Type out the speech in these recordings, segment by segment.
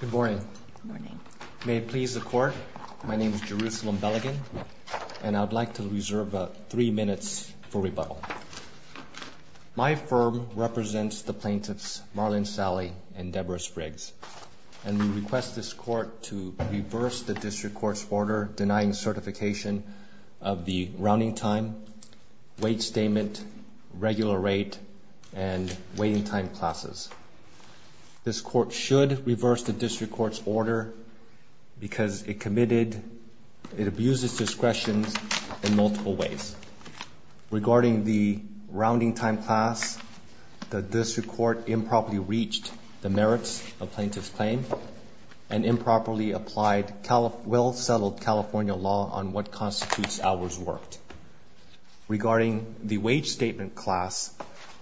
Good morning. May it please the court, my name is Jerusalem Beligan and I'd like to reserve three minutes for rebuttal. My firm represents the plaintiffs Marlyn Sali and Deborah Spriggs and we request this court to reverse the district court's order denying certification of the rounding time, wait statement, regular rate and waiting time classes. This court should reverse the district court's order because it committed, it abuses discretion in multiple ways. Regarding the rounding time class, the district court improperly reached the merits of plaintiff's claim and improperly applied well settled California law on what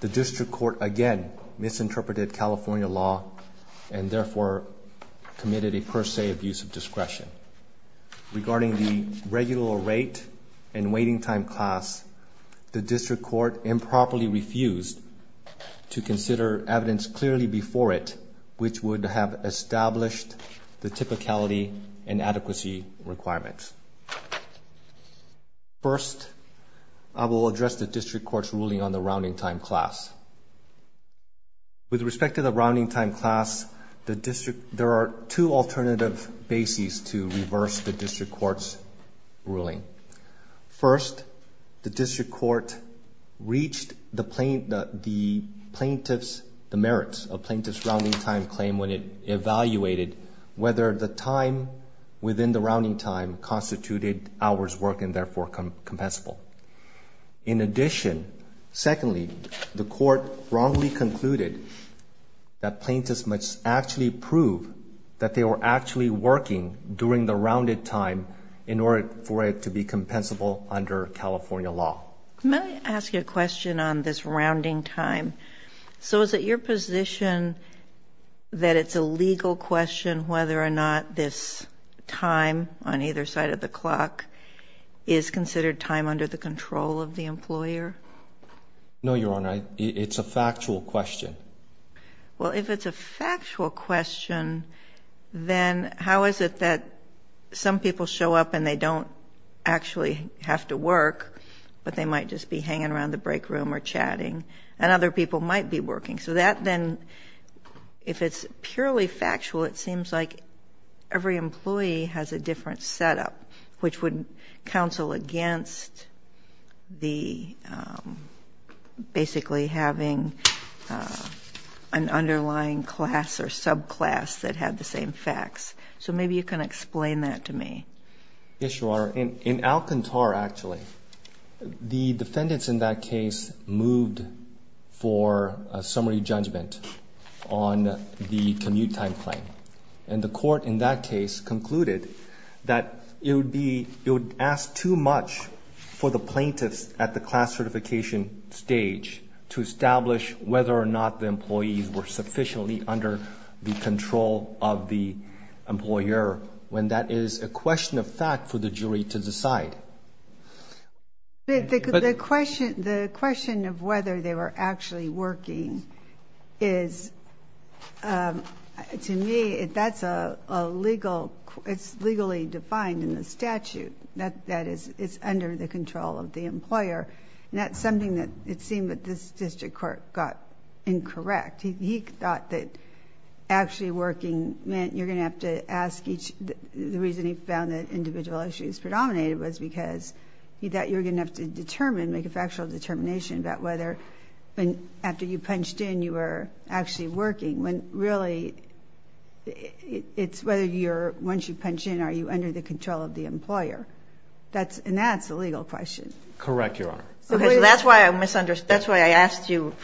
the district court again misinterpreted California law and therefore committed a per se abuse of discretion. Regarding the regular rate and waiting time class, the district court improperly refused to consider evidence clearly before it which would have established the typicality and adequacy requirements. First, I will address the district court's ruling on the rounding time class. With respect to the rounding time class, the district, there are two alternative bases to reverse the district court's ruling. First, the district court reached the plaintiff's, the merits of plaintiff's rounding time claim when it hours work and therefore compensable. In addition, secondly, the court wrongly concluded that plaintiffs must actually prove that they were actually working during the rounded time in order for it to be compensable under California law. Let me ask you a question on this rounding time. So is it your position that it's a clock is considered time under the control of the employer? No, your honor. It's a factual question. Well, if it's a factual question, then how is it that some people show up and they don't actually have to work, but they might just be hanging around the break room or chatting and other people might be working. So that then, if it's purely factual, it seems like every employee has a different setup, which would counsel against the basically having an underlying class or subclass that had the same facts. So maybe you can explain that to me. Yes, your honor. In Alcantara, actually, the defendants in that case moved for a summary judgment on the commute time claim. And the court in that case concluded that it would ask too much for the plaintiffs at the class certification stage to establish whether or not the employees were sufficiently under the control of the employer when that is a question of fact for the jury to decide. But the question of whether they were actually working is, to me, that's legally defined in the statute. That is, it's under the control of the employer. And that's something that it seemed that this district court got incorrect. He thought that actually working meant you're going to have to ask each... The reason he found that individual issues predominated was because he thought you were going to have to punched in, you were actually working, when really it's whether you're, once you punch in, are you under the control of the employer. And that's a legal question. Correct, your honor. That's why I misunderstood. That's why I asked you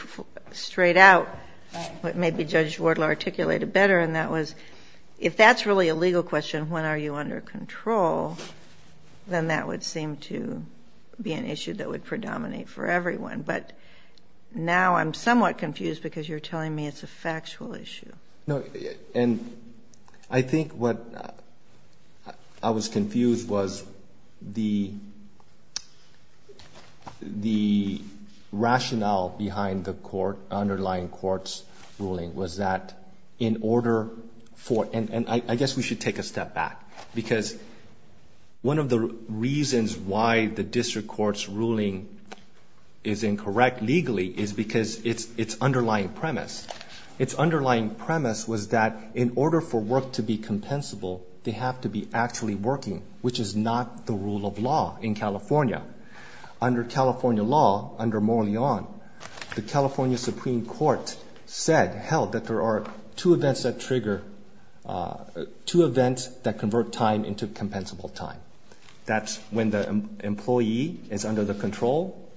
straight out. Maybe Judge Ward will articulate it better. And that was, if that's really a legal question, when are you under control, then that would seem to be an issue that would predominate for everyone. But now I'm somewhat confused because you're telling me it's a factual issue. And I think what I was confused was the rationale behind the underlying court's ruling was that in order for... And I guess we should take a step back because one of the reasons why the district court's ruling is incorrect legally is because it's underlying premise. It's underlying premise was that in order for work to be compensable, they have to be actually working, which is not the rule of law in California. Under California law, under Morley on, the California Supreme Court said, held that there are two events that trigger, two events that convert time into compensable time. That's when the employee is under the control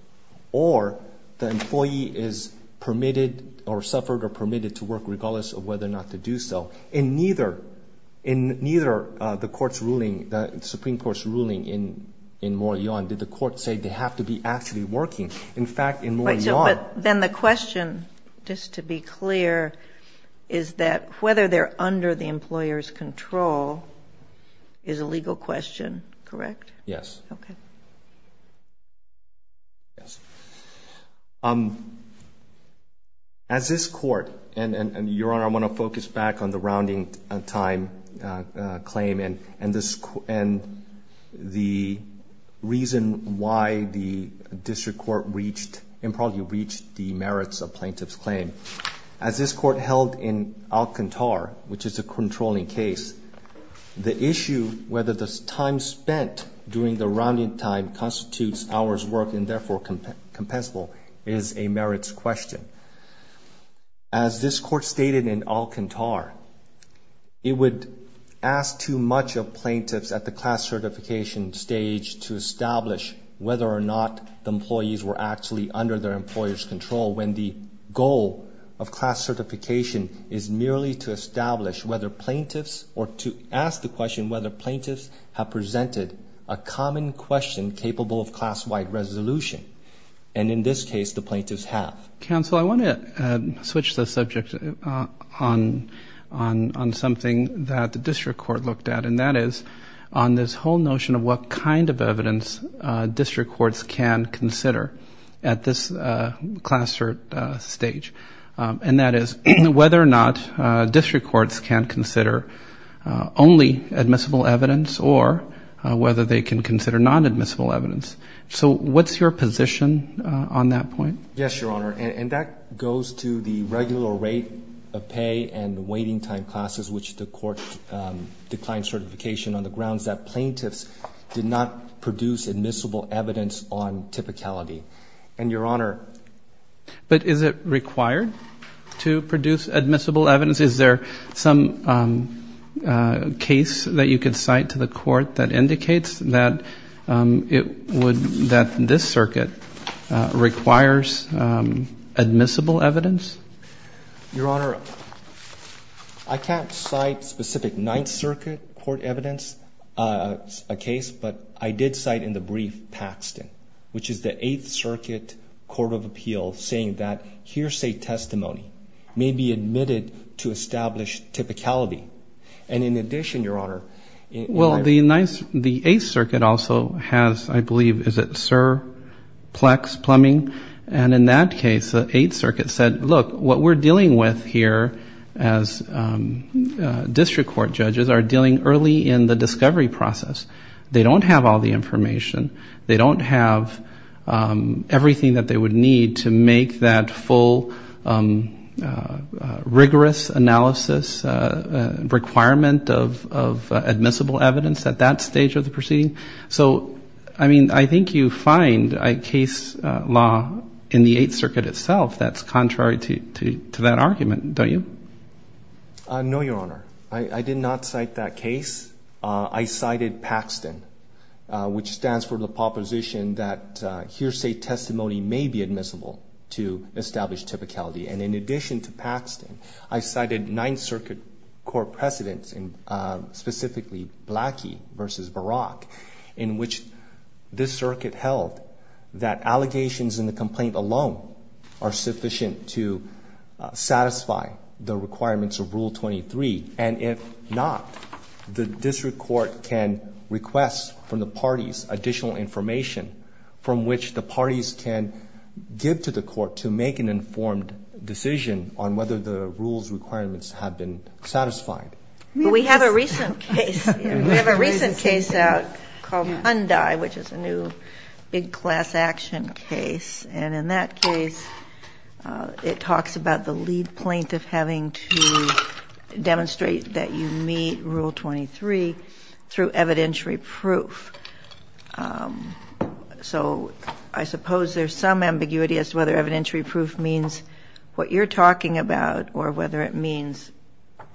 or the employee is permitted or suffered or permitted to work regardless of whether or not to do so. In neither, in neither the court's ruling, the Supreme Court's ruling in Morley on, did the court say they have to be actually working? In fact, in Morley on... But then the question, just to be clear, is that whether they're under the control is a legal question, correct? Yes. Okay. Yes. As this court... And, Your Honor, I want to focus back on the rounding time claim and the reason why the district court reached, and probably reached, the merits of plaintiff's claim. As this court held in Alcantar, which is a whether the time spent during the rounding time constitutes hours worked and therefore compensable, is a merits question. As this court stated in Alcantar, it would ask too much of plaintiffs at the class certification stage to establish whether or not the employees were actually under their employer's control when the goal of class certification is merely to establish whether plaintiffs, or to ask the question whether plaintiffs have presented a common question capable of class-wide resolution. And in this case, the plaintiffs have. Counsel, I want to switch the subject on something that the district court looked at, and that is on this whole notion of what kind of evidence district courts can consider at this class cert stage. And that is whether or not district courts can consider only admissible evidence, or whether they can consider non-admissible evidence. So what's your position on that point? Yes, Your Honor. And that goes to the regular rate of pay and waiting time classes, which the court declined certification on the grounds that plaintiffs did not produce admissible evidence on typicality. And, Your Honor. But is it required to produce admissible evidence? Is there some case that you could cite to the court that indicates that it would, that this circuit requires admissible evidence? Your Honor, I can't cite specific Ninth Circuit court evidence, a case, but I did cite in the brief, Paxton, which is the Eighth Circuit Court of Appeal, saying that hearsay testimony may be admitted to establish typicality. And in addition, Your Honor. Well, the Ninth, the Eighth Circuit also has, I believe, is it Sir Plex Plumbing? And in that case, the Eighth Circuit said, look, what we're dealing with here as district court judges are dealing early in the discovery process. They don't have all the information. They don't have everything that they would need to make that full, rigorous analysis requirement of admissible evidence at that stage of the proceeding. So, I mean, I think you find a case law in the Eighth Circuit itself that's contrary to that argument, don't you? No, Your Honor. I did not cite that case. I cited Paxton, which stands for the proposition that hearsay testimony may be admissible to establish typicality. And in addition to Paxton, I cited Ninth Circuit court precedents, specifically Blackie versus Barack, in which this circuit held that allegations in the complaint alone are sufficient to satisfy the requirements of Rule 23. And if not, the district court can request from the parties additional information from which the parties can give to the court to make an informed decision on whether the rules requirements have been satisfied. We have a recent case. We have a recent case out called Hyundai, which is a new big class action case. And in that case, it talks about the lead plaintiff having to demonstrate that you meet Rule 23 through evidentiary proof. So I suppose there's some ambiguity as to whether evidentiary proof means what you're talking about or whether it means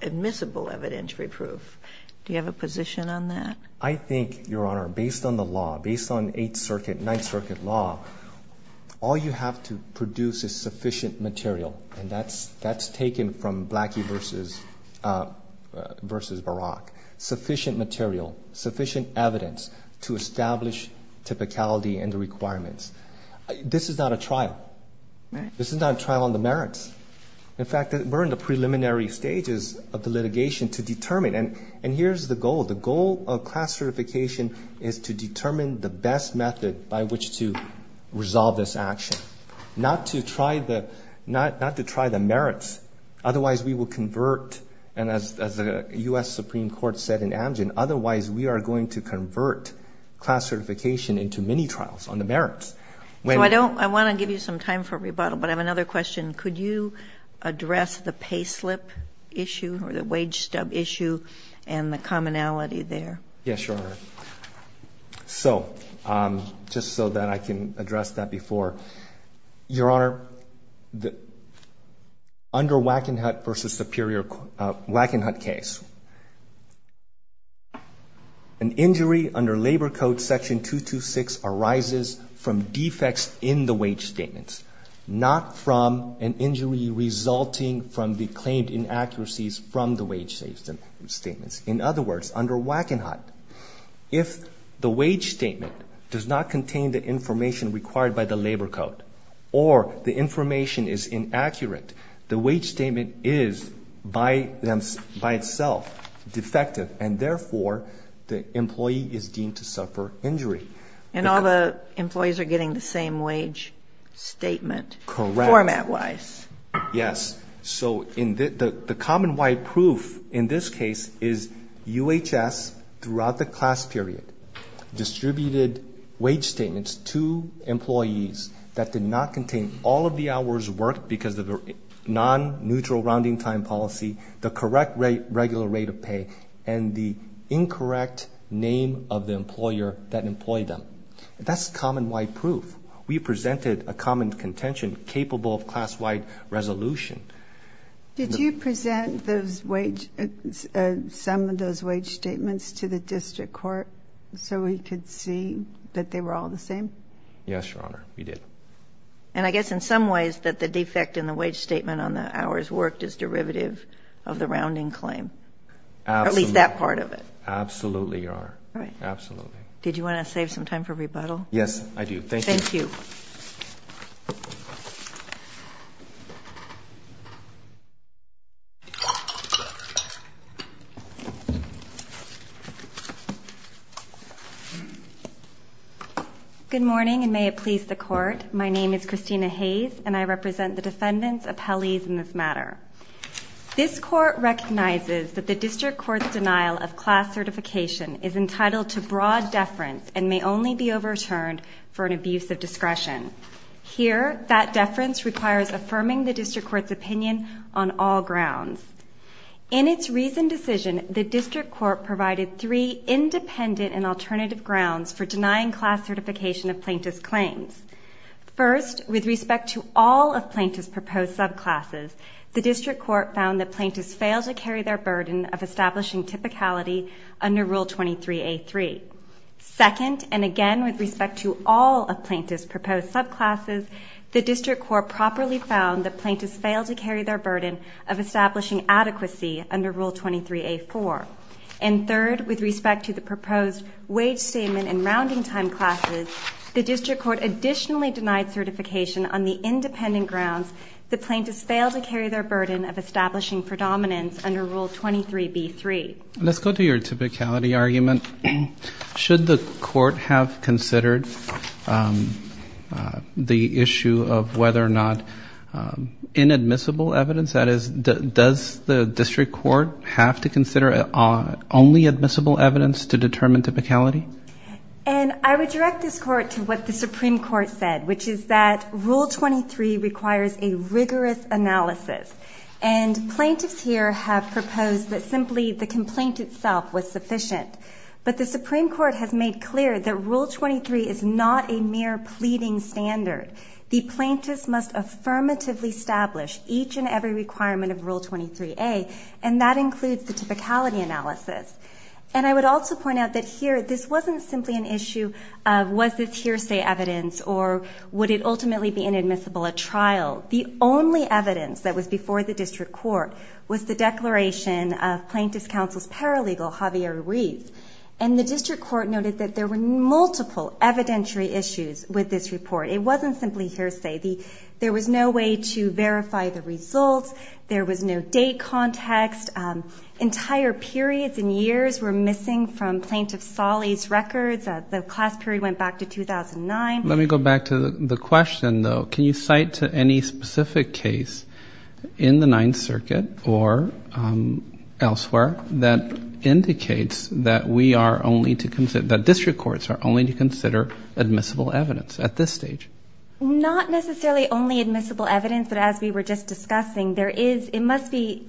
admissible evidentiary proof. Do you have a position on that? I think, Your Honor, based on the law, based on Eighth Circuit, Ninth Circuit law, all you have to produce is sufficient material. And that's taken from Blackie versus Barack. Sufficient material, sufficient evidence to establish typicality and the requirements. This is not a trial. This is not a trial on the merits. In fact, we're in the preliminary stages of the litigation to determine. And here's the goal. The goal of class certification is to determine the best method by which to resolve this action, not to try the merits. Otherwise, we will convert, and as the U.S. Supreme Court said in Amgen, otherwise we are going to convert class certification into mini-trials on the merits. So I want to give you some time for rebuttal, but I have another question. Could you address the pay slip issue or the wage stub issue and the commonality there? Yes, Your Honor. So just so that I can address that before. Your Honor, under Wackenhut v. Superior Wackenhut case, an injury under labor code section 226 arises from defects in the wage statements, not from an injury resulting from the claimed inaccuracies from the wage statements. In other words, under Wackenhut, if the wage statement does not contain the information required by the labor code or the information is inaccurate, the wage statement is by itself defective and therefore the employee is deemed to suffer injury. And all the employees are getting the same wage statement format-wise? Correct. Yes. So the common wide proof in this case is UHS, throughout the class period, distributed wage statements to employees that did not contain all of the hours worked because of the non-neutral rounding time policy, the correct regular rate of pay, and the incorrect name of the employer that employed them. That's common wide proof. We presented a common contention capable of class-wide resolution. Did you present some of those wage statements to the district court so we could see that they were all the same? Yes, Your Honor, we did. And I guess in some ways that the defect in the wage statement on the hours worked is derivative of the rounding claim. At least that part of it. Absolutely, Your Honor. Absolutely. Did you want to save some time for rebuttal? Yes, I do. Thank you. Thank you. Good morning, and may it please the Court. My name is Christina Hayes, and I represent the defendants' appellees in this matter. This Court recognizes that the district court's denial of class certification is entitled to broad deference and may only be overturned for an abuse of discretion. Here, that deference requires affirming the district court's opinion on all grounds. In its recent decision, the district court provided three independent and alternative grounds for denying class certification of plaintiff's proposed subclasses. The district court found that plaintiffs fail to carry their burden of establishing typicality under Rule 23A3. Second, and again with respect to all of plaintiffs' proposed subclasses, the district court properly found that plaintiffs fail to carry their burden of establishing adequacy under Rule 23A4. And third, with respect to the proposed wage statement and rounding time classes, the district court additionally denied certification on the independent grounds that plaintiffs fail to carry their burden of establishing predominance under Rule 23B3. Let's go to your typicality argument. Should the court have considered the issue of whether or not inadmissible evidence, that is, does the district court have to consider only admissible evidence to determine typicality? And I would direct this court to what the Supreme Court said, which is that Rule 23 requires a rigorous analysis. And plaintiffs here have proposed that simply the complaint itself was sufficient. But the Supreme Court has made clear that Rule 23 is not a mere pleading standard. The plaintiffs must affirmatively establish each and every requirement of Rule 23A, and that includes the typicality analysis. And I would also point out that here, this wasn't simply an issue of was this hearsay evidence or would it ultimately be inadmissible at trial. The only evidence that was before the district court was the declaration of Plaintiff's Counsel's paralegal, Javier Ruiz. And the district court noted that there were multiple evidentiary issues with this report. It wasn't simply hearsay. There was no way to verify the results. There was no date context. Entire periods and years were missing from these records. The class period went back to 2009. Let me go back to the question, though. Can you cite any specific case in the Ninth Circuit or elsewhere that indicates that we are only to consider, that district courts are only to consider admissible evidence at this stage? Not necessarily only admissible evidence, but as we were just discussing, it must be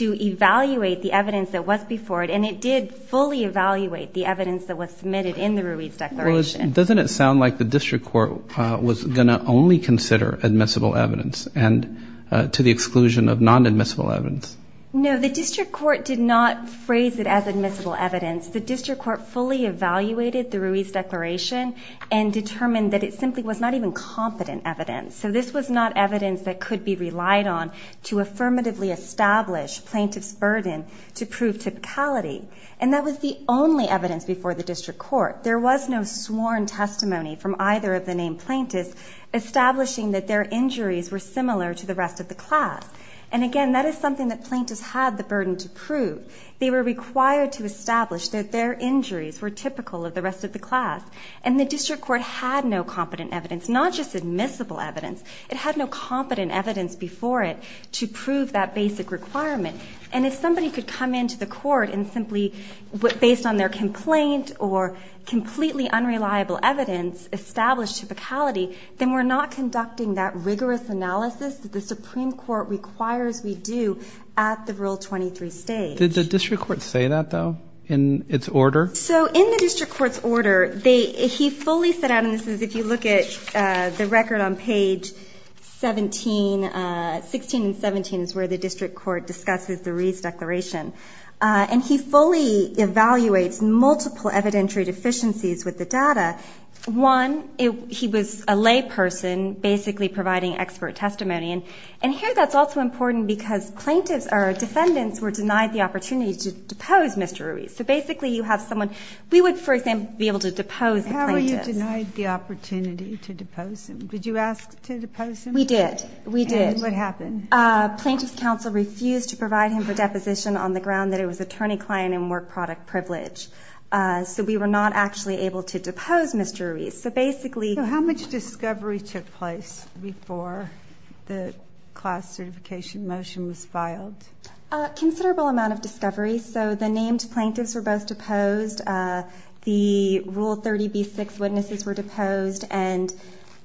to evaluate the evidence that was before it, and it did fully evaluate the evidence that was submitted in the Ruiz Declaration. Well, doesn't it sound like the district court was going to only consider admissible evidence and to the exclusion of non-admissible evidence? No, the district court did not phrase it as admissible evidence. The district court fully evaluated the Ruiz Declaration and determined that it simply was not even competent evidence. So this was not evidence that could be relied on to affirmatively establish plaintiff's burden to prove typicality, and that was the only evidence before the district court. There was no sworn testimony from either of the named plaintiffs establishing that their injuries were similar to the rest of the class, and again, that is something that plaintiffs had the burden to prove. They were required to establish that their injuries were typical of the rest of the class, and the district court had no competent evidence, not just admissible evidence. It had no competent evidence before it to prove that basic requirement, and if somebody could come into the court and simply, based on their complaint or completely unreliable evidence, establish typicality, then we're not conducting that rigorous analysis that the Supreme Court requires we do at the Rule 23 stage. Did the district court say that, though, in its order? So in the district court's order, he fully set out, and this is if you look at the record on page 16 and 17 is where the district court discusses the Ruiz Declaration, and he fully evaluates multiple evidentiary deficiencies with the data. One, he was a layperson basically providing expert testimony, and here that's also important because plaintiffs or defendants were denied the opportunity to depose Mr. Ruiz. So basically you have someone, we would for example be able to depose the plaintiff. How were you denied the opportunity to depose him? Did you ask to depose him? We did. We did. And what happened? Plaintiff's counsel refused to provide him for deposition on the ground that it was attorney client and work product privilege. So we were not actually able to depose Mr. Ruiz. So basically How much discovery took place before the class certification motion was filed? Considerable amount of discovery. So the named plaintiffs were both deposed. The Rule 30B6 witnesses were deposed, and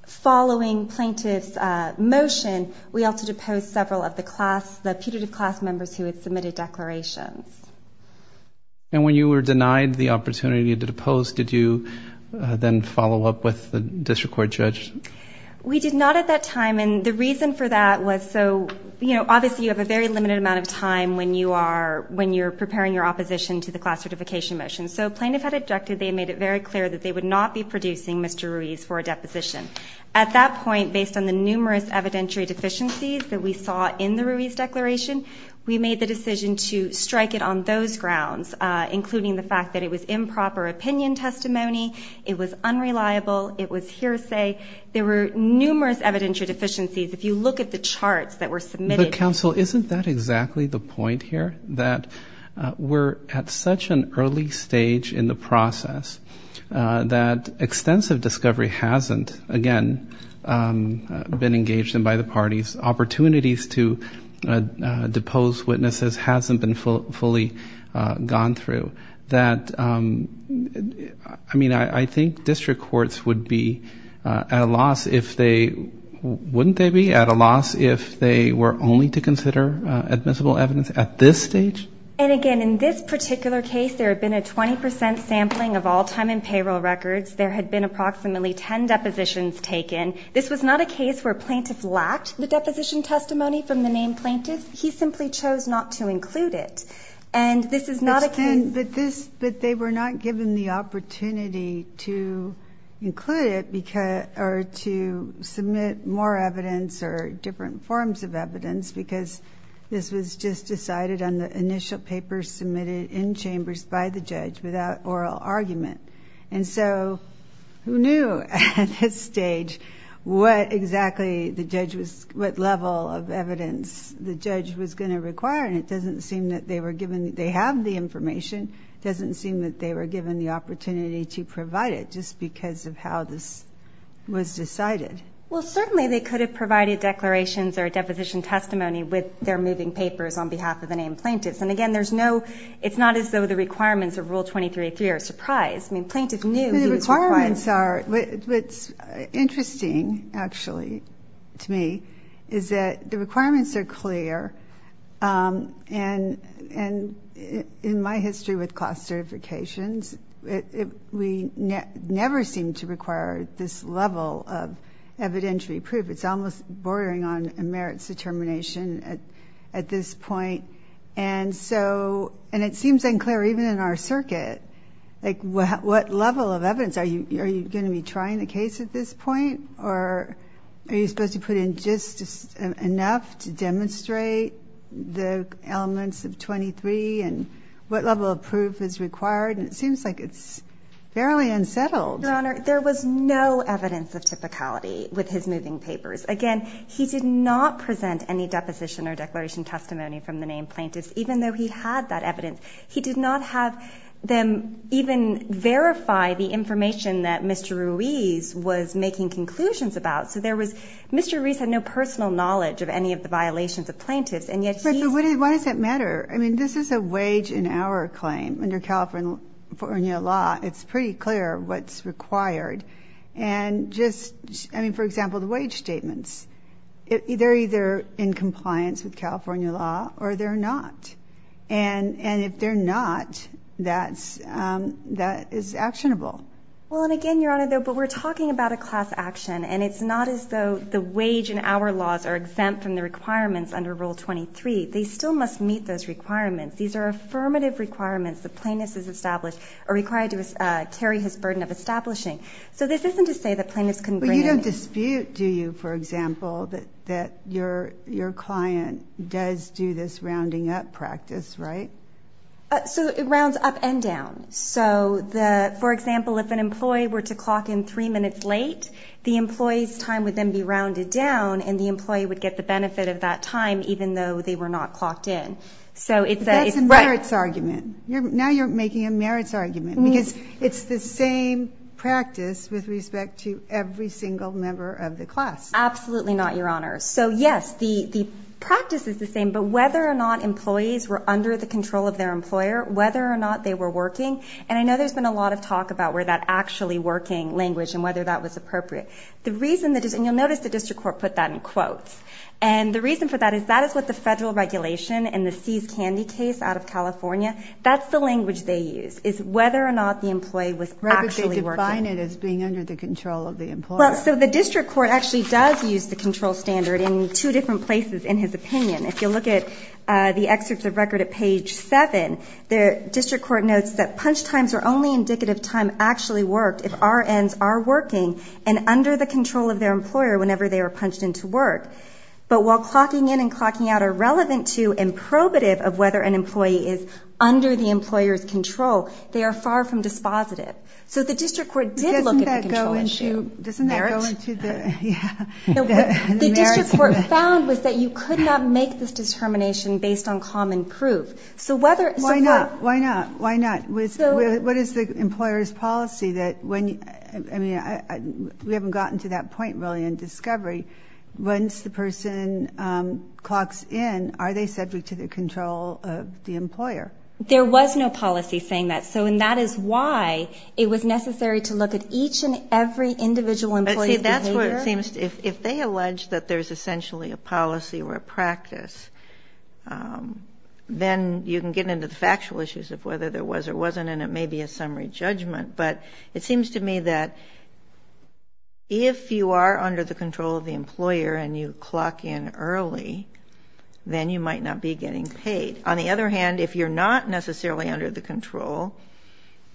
following plaintiff's motion, we also deposed several of the class, the putative class members who had submitted declarations. And when you were denied the opportunity to depose, did you then follow up with the district court judge? We did not at that time, and the reason for that was so, you know, obviously you have a very limited amount of time when you are, when you're preparing your opposition to the class certification motion. So plaintiff had objected, they made it very clear that they would not be producing Mr. Ruiz for a deposition. At that point, based on the numerous evidentiary deficiencies that we saw in the Ruiz declaration, we made the decision to strike it on those grounds, including the fact that it was improper opinion testimony, it was unreliable, it was hearsay. There were numerous evidentiary deficiencies. If you look at the charts that were submitted But counsel, isn't that exactly the point here? That we're at such an early stage in the process that extensive discovery hasn't, again, been engaged in by the parties. Opportunities to depose witnesses hasn't been fully gone through. That, I mean, I think district courts would be at a loss if they, wouldn't they be at a loss if they were only to consider admissible evidence at this stage? And again, in this particular case, there had been a 20 percent sampling of all time and payroll records. There had been approximately 10 depositions taken. This was not a case where a plaintiff lacked the deposition testimony from the named plaintiff. He simply chose not to include it. And this is not a case But this, but they were not given the opportunity to include it because, or to submit more evidence or different forms of evidence because this was just decided on the initial papers submitted in chambers by the judge without oral argument. And so, who knew at this stage what exactly the judge was, what level of evidence the judge was going to require? And it doesn't seem that they were given, they have the information. It doesn't seem that they were given the opportunity to provide it just because of how this was decided. Well, certainly they could have provided declarations or deposition testimony with their moving papers on behalf of the named plaintiffs. And again, there's no, it's not as though the requirements of Rule 23.3 are a surprise. I mean, plaintiffs knew The requirements are, what's interesting, actually, to me, is that the requirements are clear. And in my history with class certifications, we never seem to require this level of evidentiary proof. It's almost bordering on a merits determination at this point. And so, and it seems unclear even in our circuit, like what level of evidence, are you going to be trying the case at this point? Or are you supposed to put in just enough to demonstrate the elements of 23 and what level of proof is required? And it seems like it's fairly unsettled. Your Honor, there was no evidence of typicality with his moving papers. Again, he did not present any deposition or declaration testimony from the named plaintiffs, even though he had that evidence. He did not have them even verify the information that Mr. Ruiz was making conclusions about. So there was, Mr. Ruiz had no personal knowledge of any of the violations of plaintiffs, and yet he But why does it matter? I mean, this is a wage and hour claim under California law. It's pretty clear what's required. And just, I mean, for example, the wage statements, they're either in compliance with California law or they're not. And if they're not, that's, that is actionable. Well, and again, Your Honor, but we're talking about a class action, and it's not as though the wage and hour laws are exempt from the requirements under Rule 23. They still must meet those requirements. These are affirmative requirements the plaintiff is established or required to carry his burden of establishing. So this isn't to say that plaintiffs can bring in But you don't dispute, do you, for example, that your client does do this rounding up practice, right? So it rounds up and down. So the, for example, if an employee were to clock in three minutes late, the employee's time would then be rounded down, and the employee would get the benefit of that time, even though they were not clocked in. So it's That's a merits argument. Now you're making a merits argument, because it's the same practice with respect to every single member of the class. Absolutely not, Your Honor. So yes, the practice is the same, but whether or not employees were under the control of their employer, whether or not they were working, and I know there's been a lot of talk about where that actually working language and whether that was appropriate. The reason that is, and you'll notice the District Court put that in quotes, and the reason for that is that is what the federal regulation in the Seize Candy case out of California, that's the language they use, is whether or not the employee was actually working. But they define it as being under the control of the employer. Well, so the District Court actually does use the control standard in two different places, in his opinion. If you look at the excerpts of record at page 7, the District Court notes that punch times are only indicative of time actually worked if RNs are working and under the control of their employer whenever they are punched into work. But while clocking in and clocking out are relevant to and probative of whether an employee is under the employer's control, they are far from dispositive. So the District Court did look at the control issue. Doesn't that go into the merits? No. The District Court found was that you could not make this determination based on common proof. So whether... Why not? Why not? Why not? What is the employer's policy that when... I mean, we haven't gotten to that point, really, in discovery. Once the person clocks in, are they subject to the control of the employer? There was no policy saying that. So and that is why it was necessary to look at each and every individual employee's behavior. See, that's where it seems... If they allege that there's essentially a policy or a practice, then you can get into the factual issues of whether there was or wasn't, and it may be a summary judgment. But it seems to me that if you are under the control of the employer and you clock in early, then you might not be getting paid. On the other hand, if you're not necessarily under the control,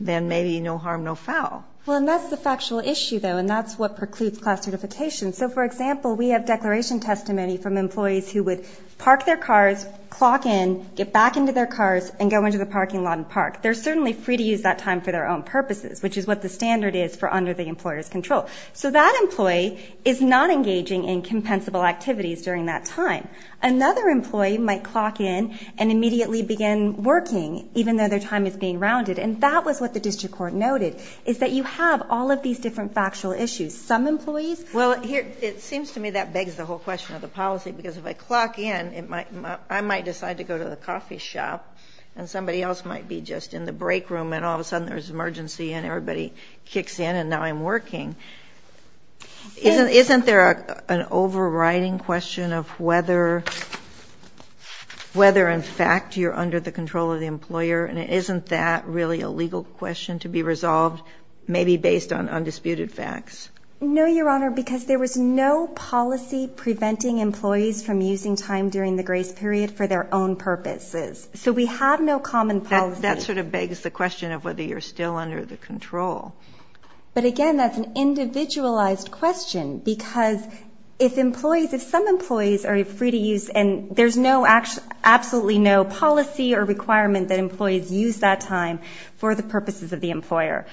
then maybe no harm, no foul. Well, and that's the factual issue, though, and that's what precludes class certification. So for example, we have declaration testimony from employees who would park their cars, clock in, get back into their cars, and go into the parking lot and park. They're certainly free to use that time for their own purposes, which is what the standard is for under the employer's control. So that employee is not engaging in compensable activities during that time. Another employee might clock in and immediately begin working, even though their time is being rounded. And that was what the district court noted, is that you have all of these different factual issues. Some employees... Well, it seems to me that begs the whole question of the policy, because if I clock in, I might decide to go to the coffee shop, and somebody else might be just in the break room, and all of a sudden there's an emergency, and everybody kicks in, and now I'm working. Isn't there an overriding question of whether, in fact, you're under the control of the employer and isn't that really a legal question to be resolved, maybe based on undisputed facts? No, Your Honor, because there was no policy preventing employees from using time during the grace period for their own purposes. So we have no common policy. That sort of begs the question of whether you're still under the control. But again, that's an individualized question, because if employees, if some employees are used that time for the purposes of the employer.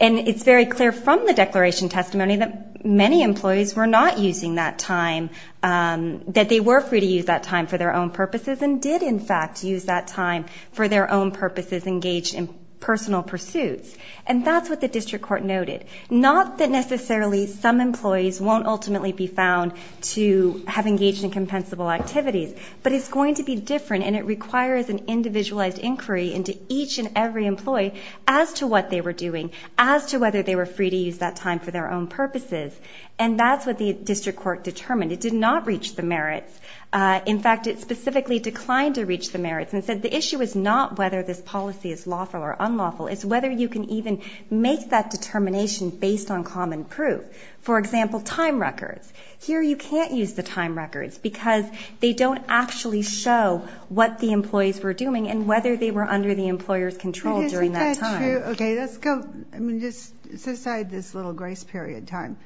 And it's very clear from the declaration testimony that many employees were not using that time, that they were free to use that time for their own purposes, and did, in fact, use that time for their own purposes, engaged in personal pursuits. And that's what the district court noted. Not that necessarily some employees won't ultimately be found to have engaged in compensable activities, but it's going to be different and it requires an individualized inquiry into each and every employee as to what they were doing, as to whether they were free to use that time for their own purposes. And that's what the district court determined. It did not reach the merits. In fact, it specifically declined to reach the merits and said the issue is not whether this policy is lawful or unlawful, it's whether you can even make that determination based on common proof. For example, time records. Here you can't use the time records because they don't actually show what the employees were doing and whether they were under the employer's control during But isn't that true? Okay, let's go, I mean, just set aside this little grace period time.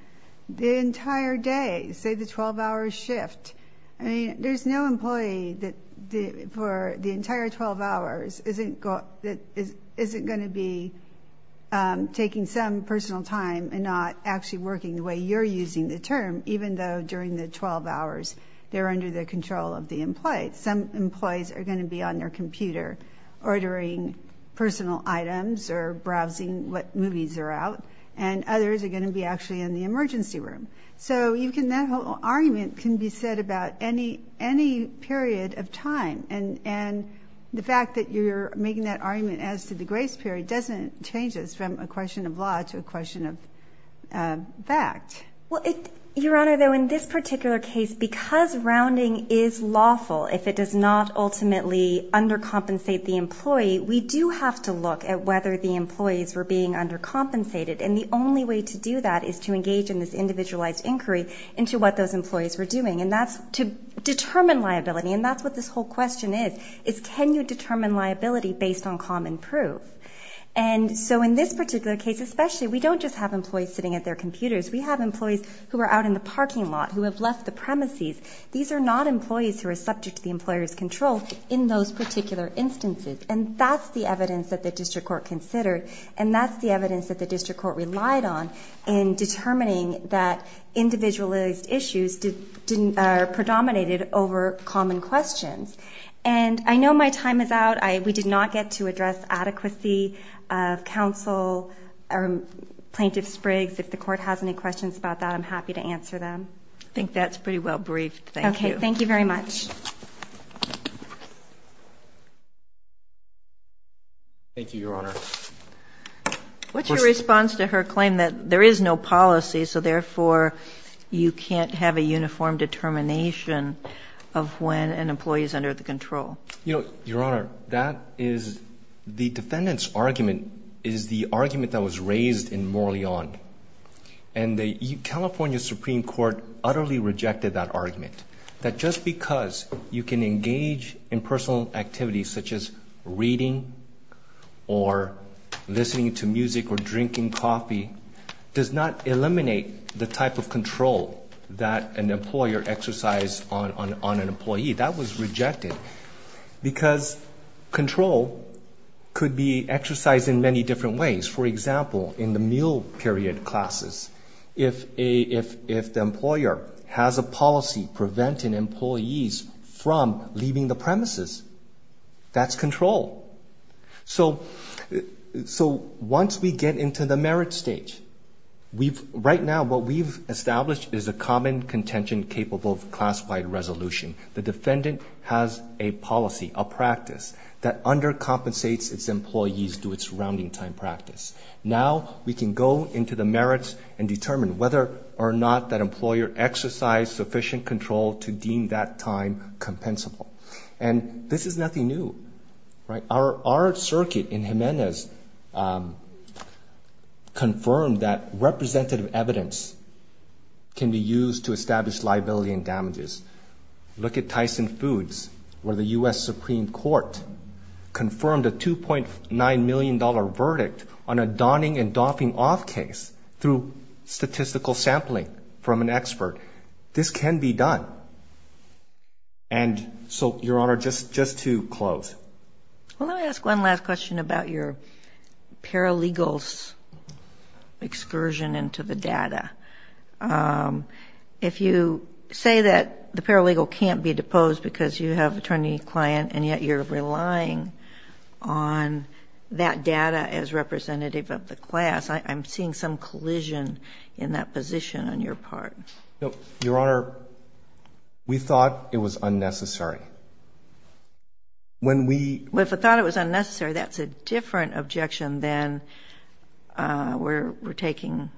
The entire day, say the 12-hour shift, I mean, there's no employee that for the entire 12 hours isn't going to be taking some personal time and not actually working the way you're using the term, even though during the 12 hours they're under the control of the employee. Some employees are going to be on their computer ordering personal items or browsing what movies are out, and others are going to be actually in the emergency room. So that whole argument can be said about any period of time, and the fact that you're making that argument as to the grace period doesn't change this from a question of law to a question of fact. Well, Your Honor, though, in this particular case, because rounding is lawful, if it does not ultimately undercompensate the employee, we do have to look at whether the employees were being undercompensated, and the only way to do that is to engage in this individualized inquiry into what those employees were doing, and that's to determine liability, and that's what this whole question is, is can you determine liability based on common proof? And so in this particular case, especially, we don't just have employees sitting at their computers. We have employees who are out in the parking lot, who have left the premises. These are not employees who are subject to the employer's control in those particular instances, and that's the evidence that the district court considered, and that's the evidence that the district court relied on in determining that individualized issues are predominated over common questions. And I know my time is out. We did not get to address adequacy of counsel or Plaintiff Spriggs. If the Court has any questions about that, I'm happy to answer them. I think that's pretty well briefed. Thank you. Okay. Thank you very much. Thank you, Your Honor. What's your response to her claim that there is no policy, so therefore you can't have a uniform determination of when an employee is under the control? Your Honor, that is the defendant's argument is the argument that was raised in Morley-On, and the California Supreme Court utterly rejected that argument, that just because you can engage in personal activities such as reading or listening to music or drinking coffee does not eliminate the type of control that an employer exercise on an employee. That was rejected because control could be exercised in many different ways. For example, in the meal period classes, if the employer has a policy preventing employees from leaving the premises, that's control. So once we get into the merit stage, once we get into the merit stage, right now what we've established is a common contention-capable classified resolution. The defendant has a policy, a practice, that undercompensates its employees to its rounding time practice. Now we can go into the merits and determine whether or not that employer exercised sufficient control to deem that time compensable. And this is nothing new. Our circuit in Jimenez confirmed that representative evidence can be used to establish liability and damages. Look at Tyson Foods, where the U.S. Supreme Court confirmed a $2.9 million verdict on a donning and doffing off case through statistical sampling from an expert. This can be done. And so, Your Honor, just to close. Well, let me ask one last question about your paralegal's excursion into the data. If you say that the paralegal can't be deposed because you have attorney-client and yet you're relying on that data as representative of the class, I'm seeing some collision in that position on your part. No, Your Honor, we thought it was unnecessary. When we... Well, if we thought it was unnecessary, that's a different objection than we're taking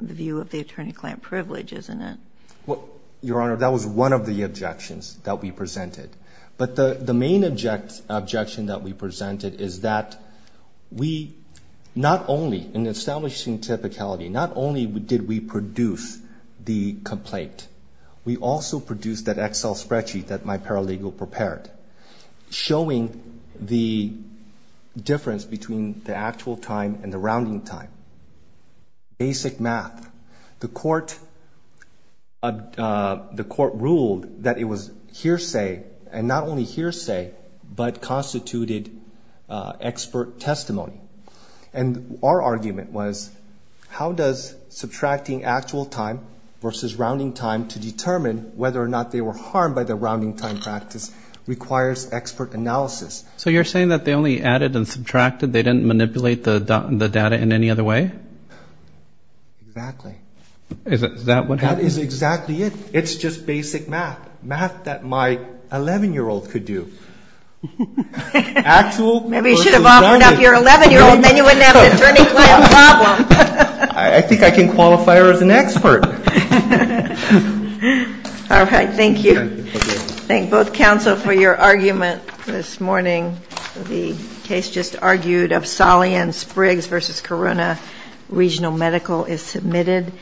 the view of the attorney-client privilege, isn't it? Well, Your Honor, that was one of the objections that we presented. But the main objection that we presented is that we not only, in establishing typicality, not only did we produce the complaint, we also produced that Excel spreadsheet that my paralegal prepared, showing the difference between the actual time and the rounding time. Basic math. The court ruled that it was hearsay, and not only hearsay, but constituted expert testimony. And our subtracting actual time versus rounding time to determine whether or not they were harmed by the rounding time practice requires expert analysis. So you're saying that they only added and subtracted, they didn't manipulate the data in any other way? Exactly. Is that what happened? That is exactly it. It's just basic math. Math that my 11-year-old could do. Actual... Maybe you should have offered up your 11-year-old, then you wouldn't have an attorney-client problem. I think I can qualify her as an expert. All right. Thank you. Thank both counsel for your argument this morning. The case just argued of Solly and Spriggs v. Corona Regional Medical is submitted.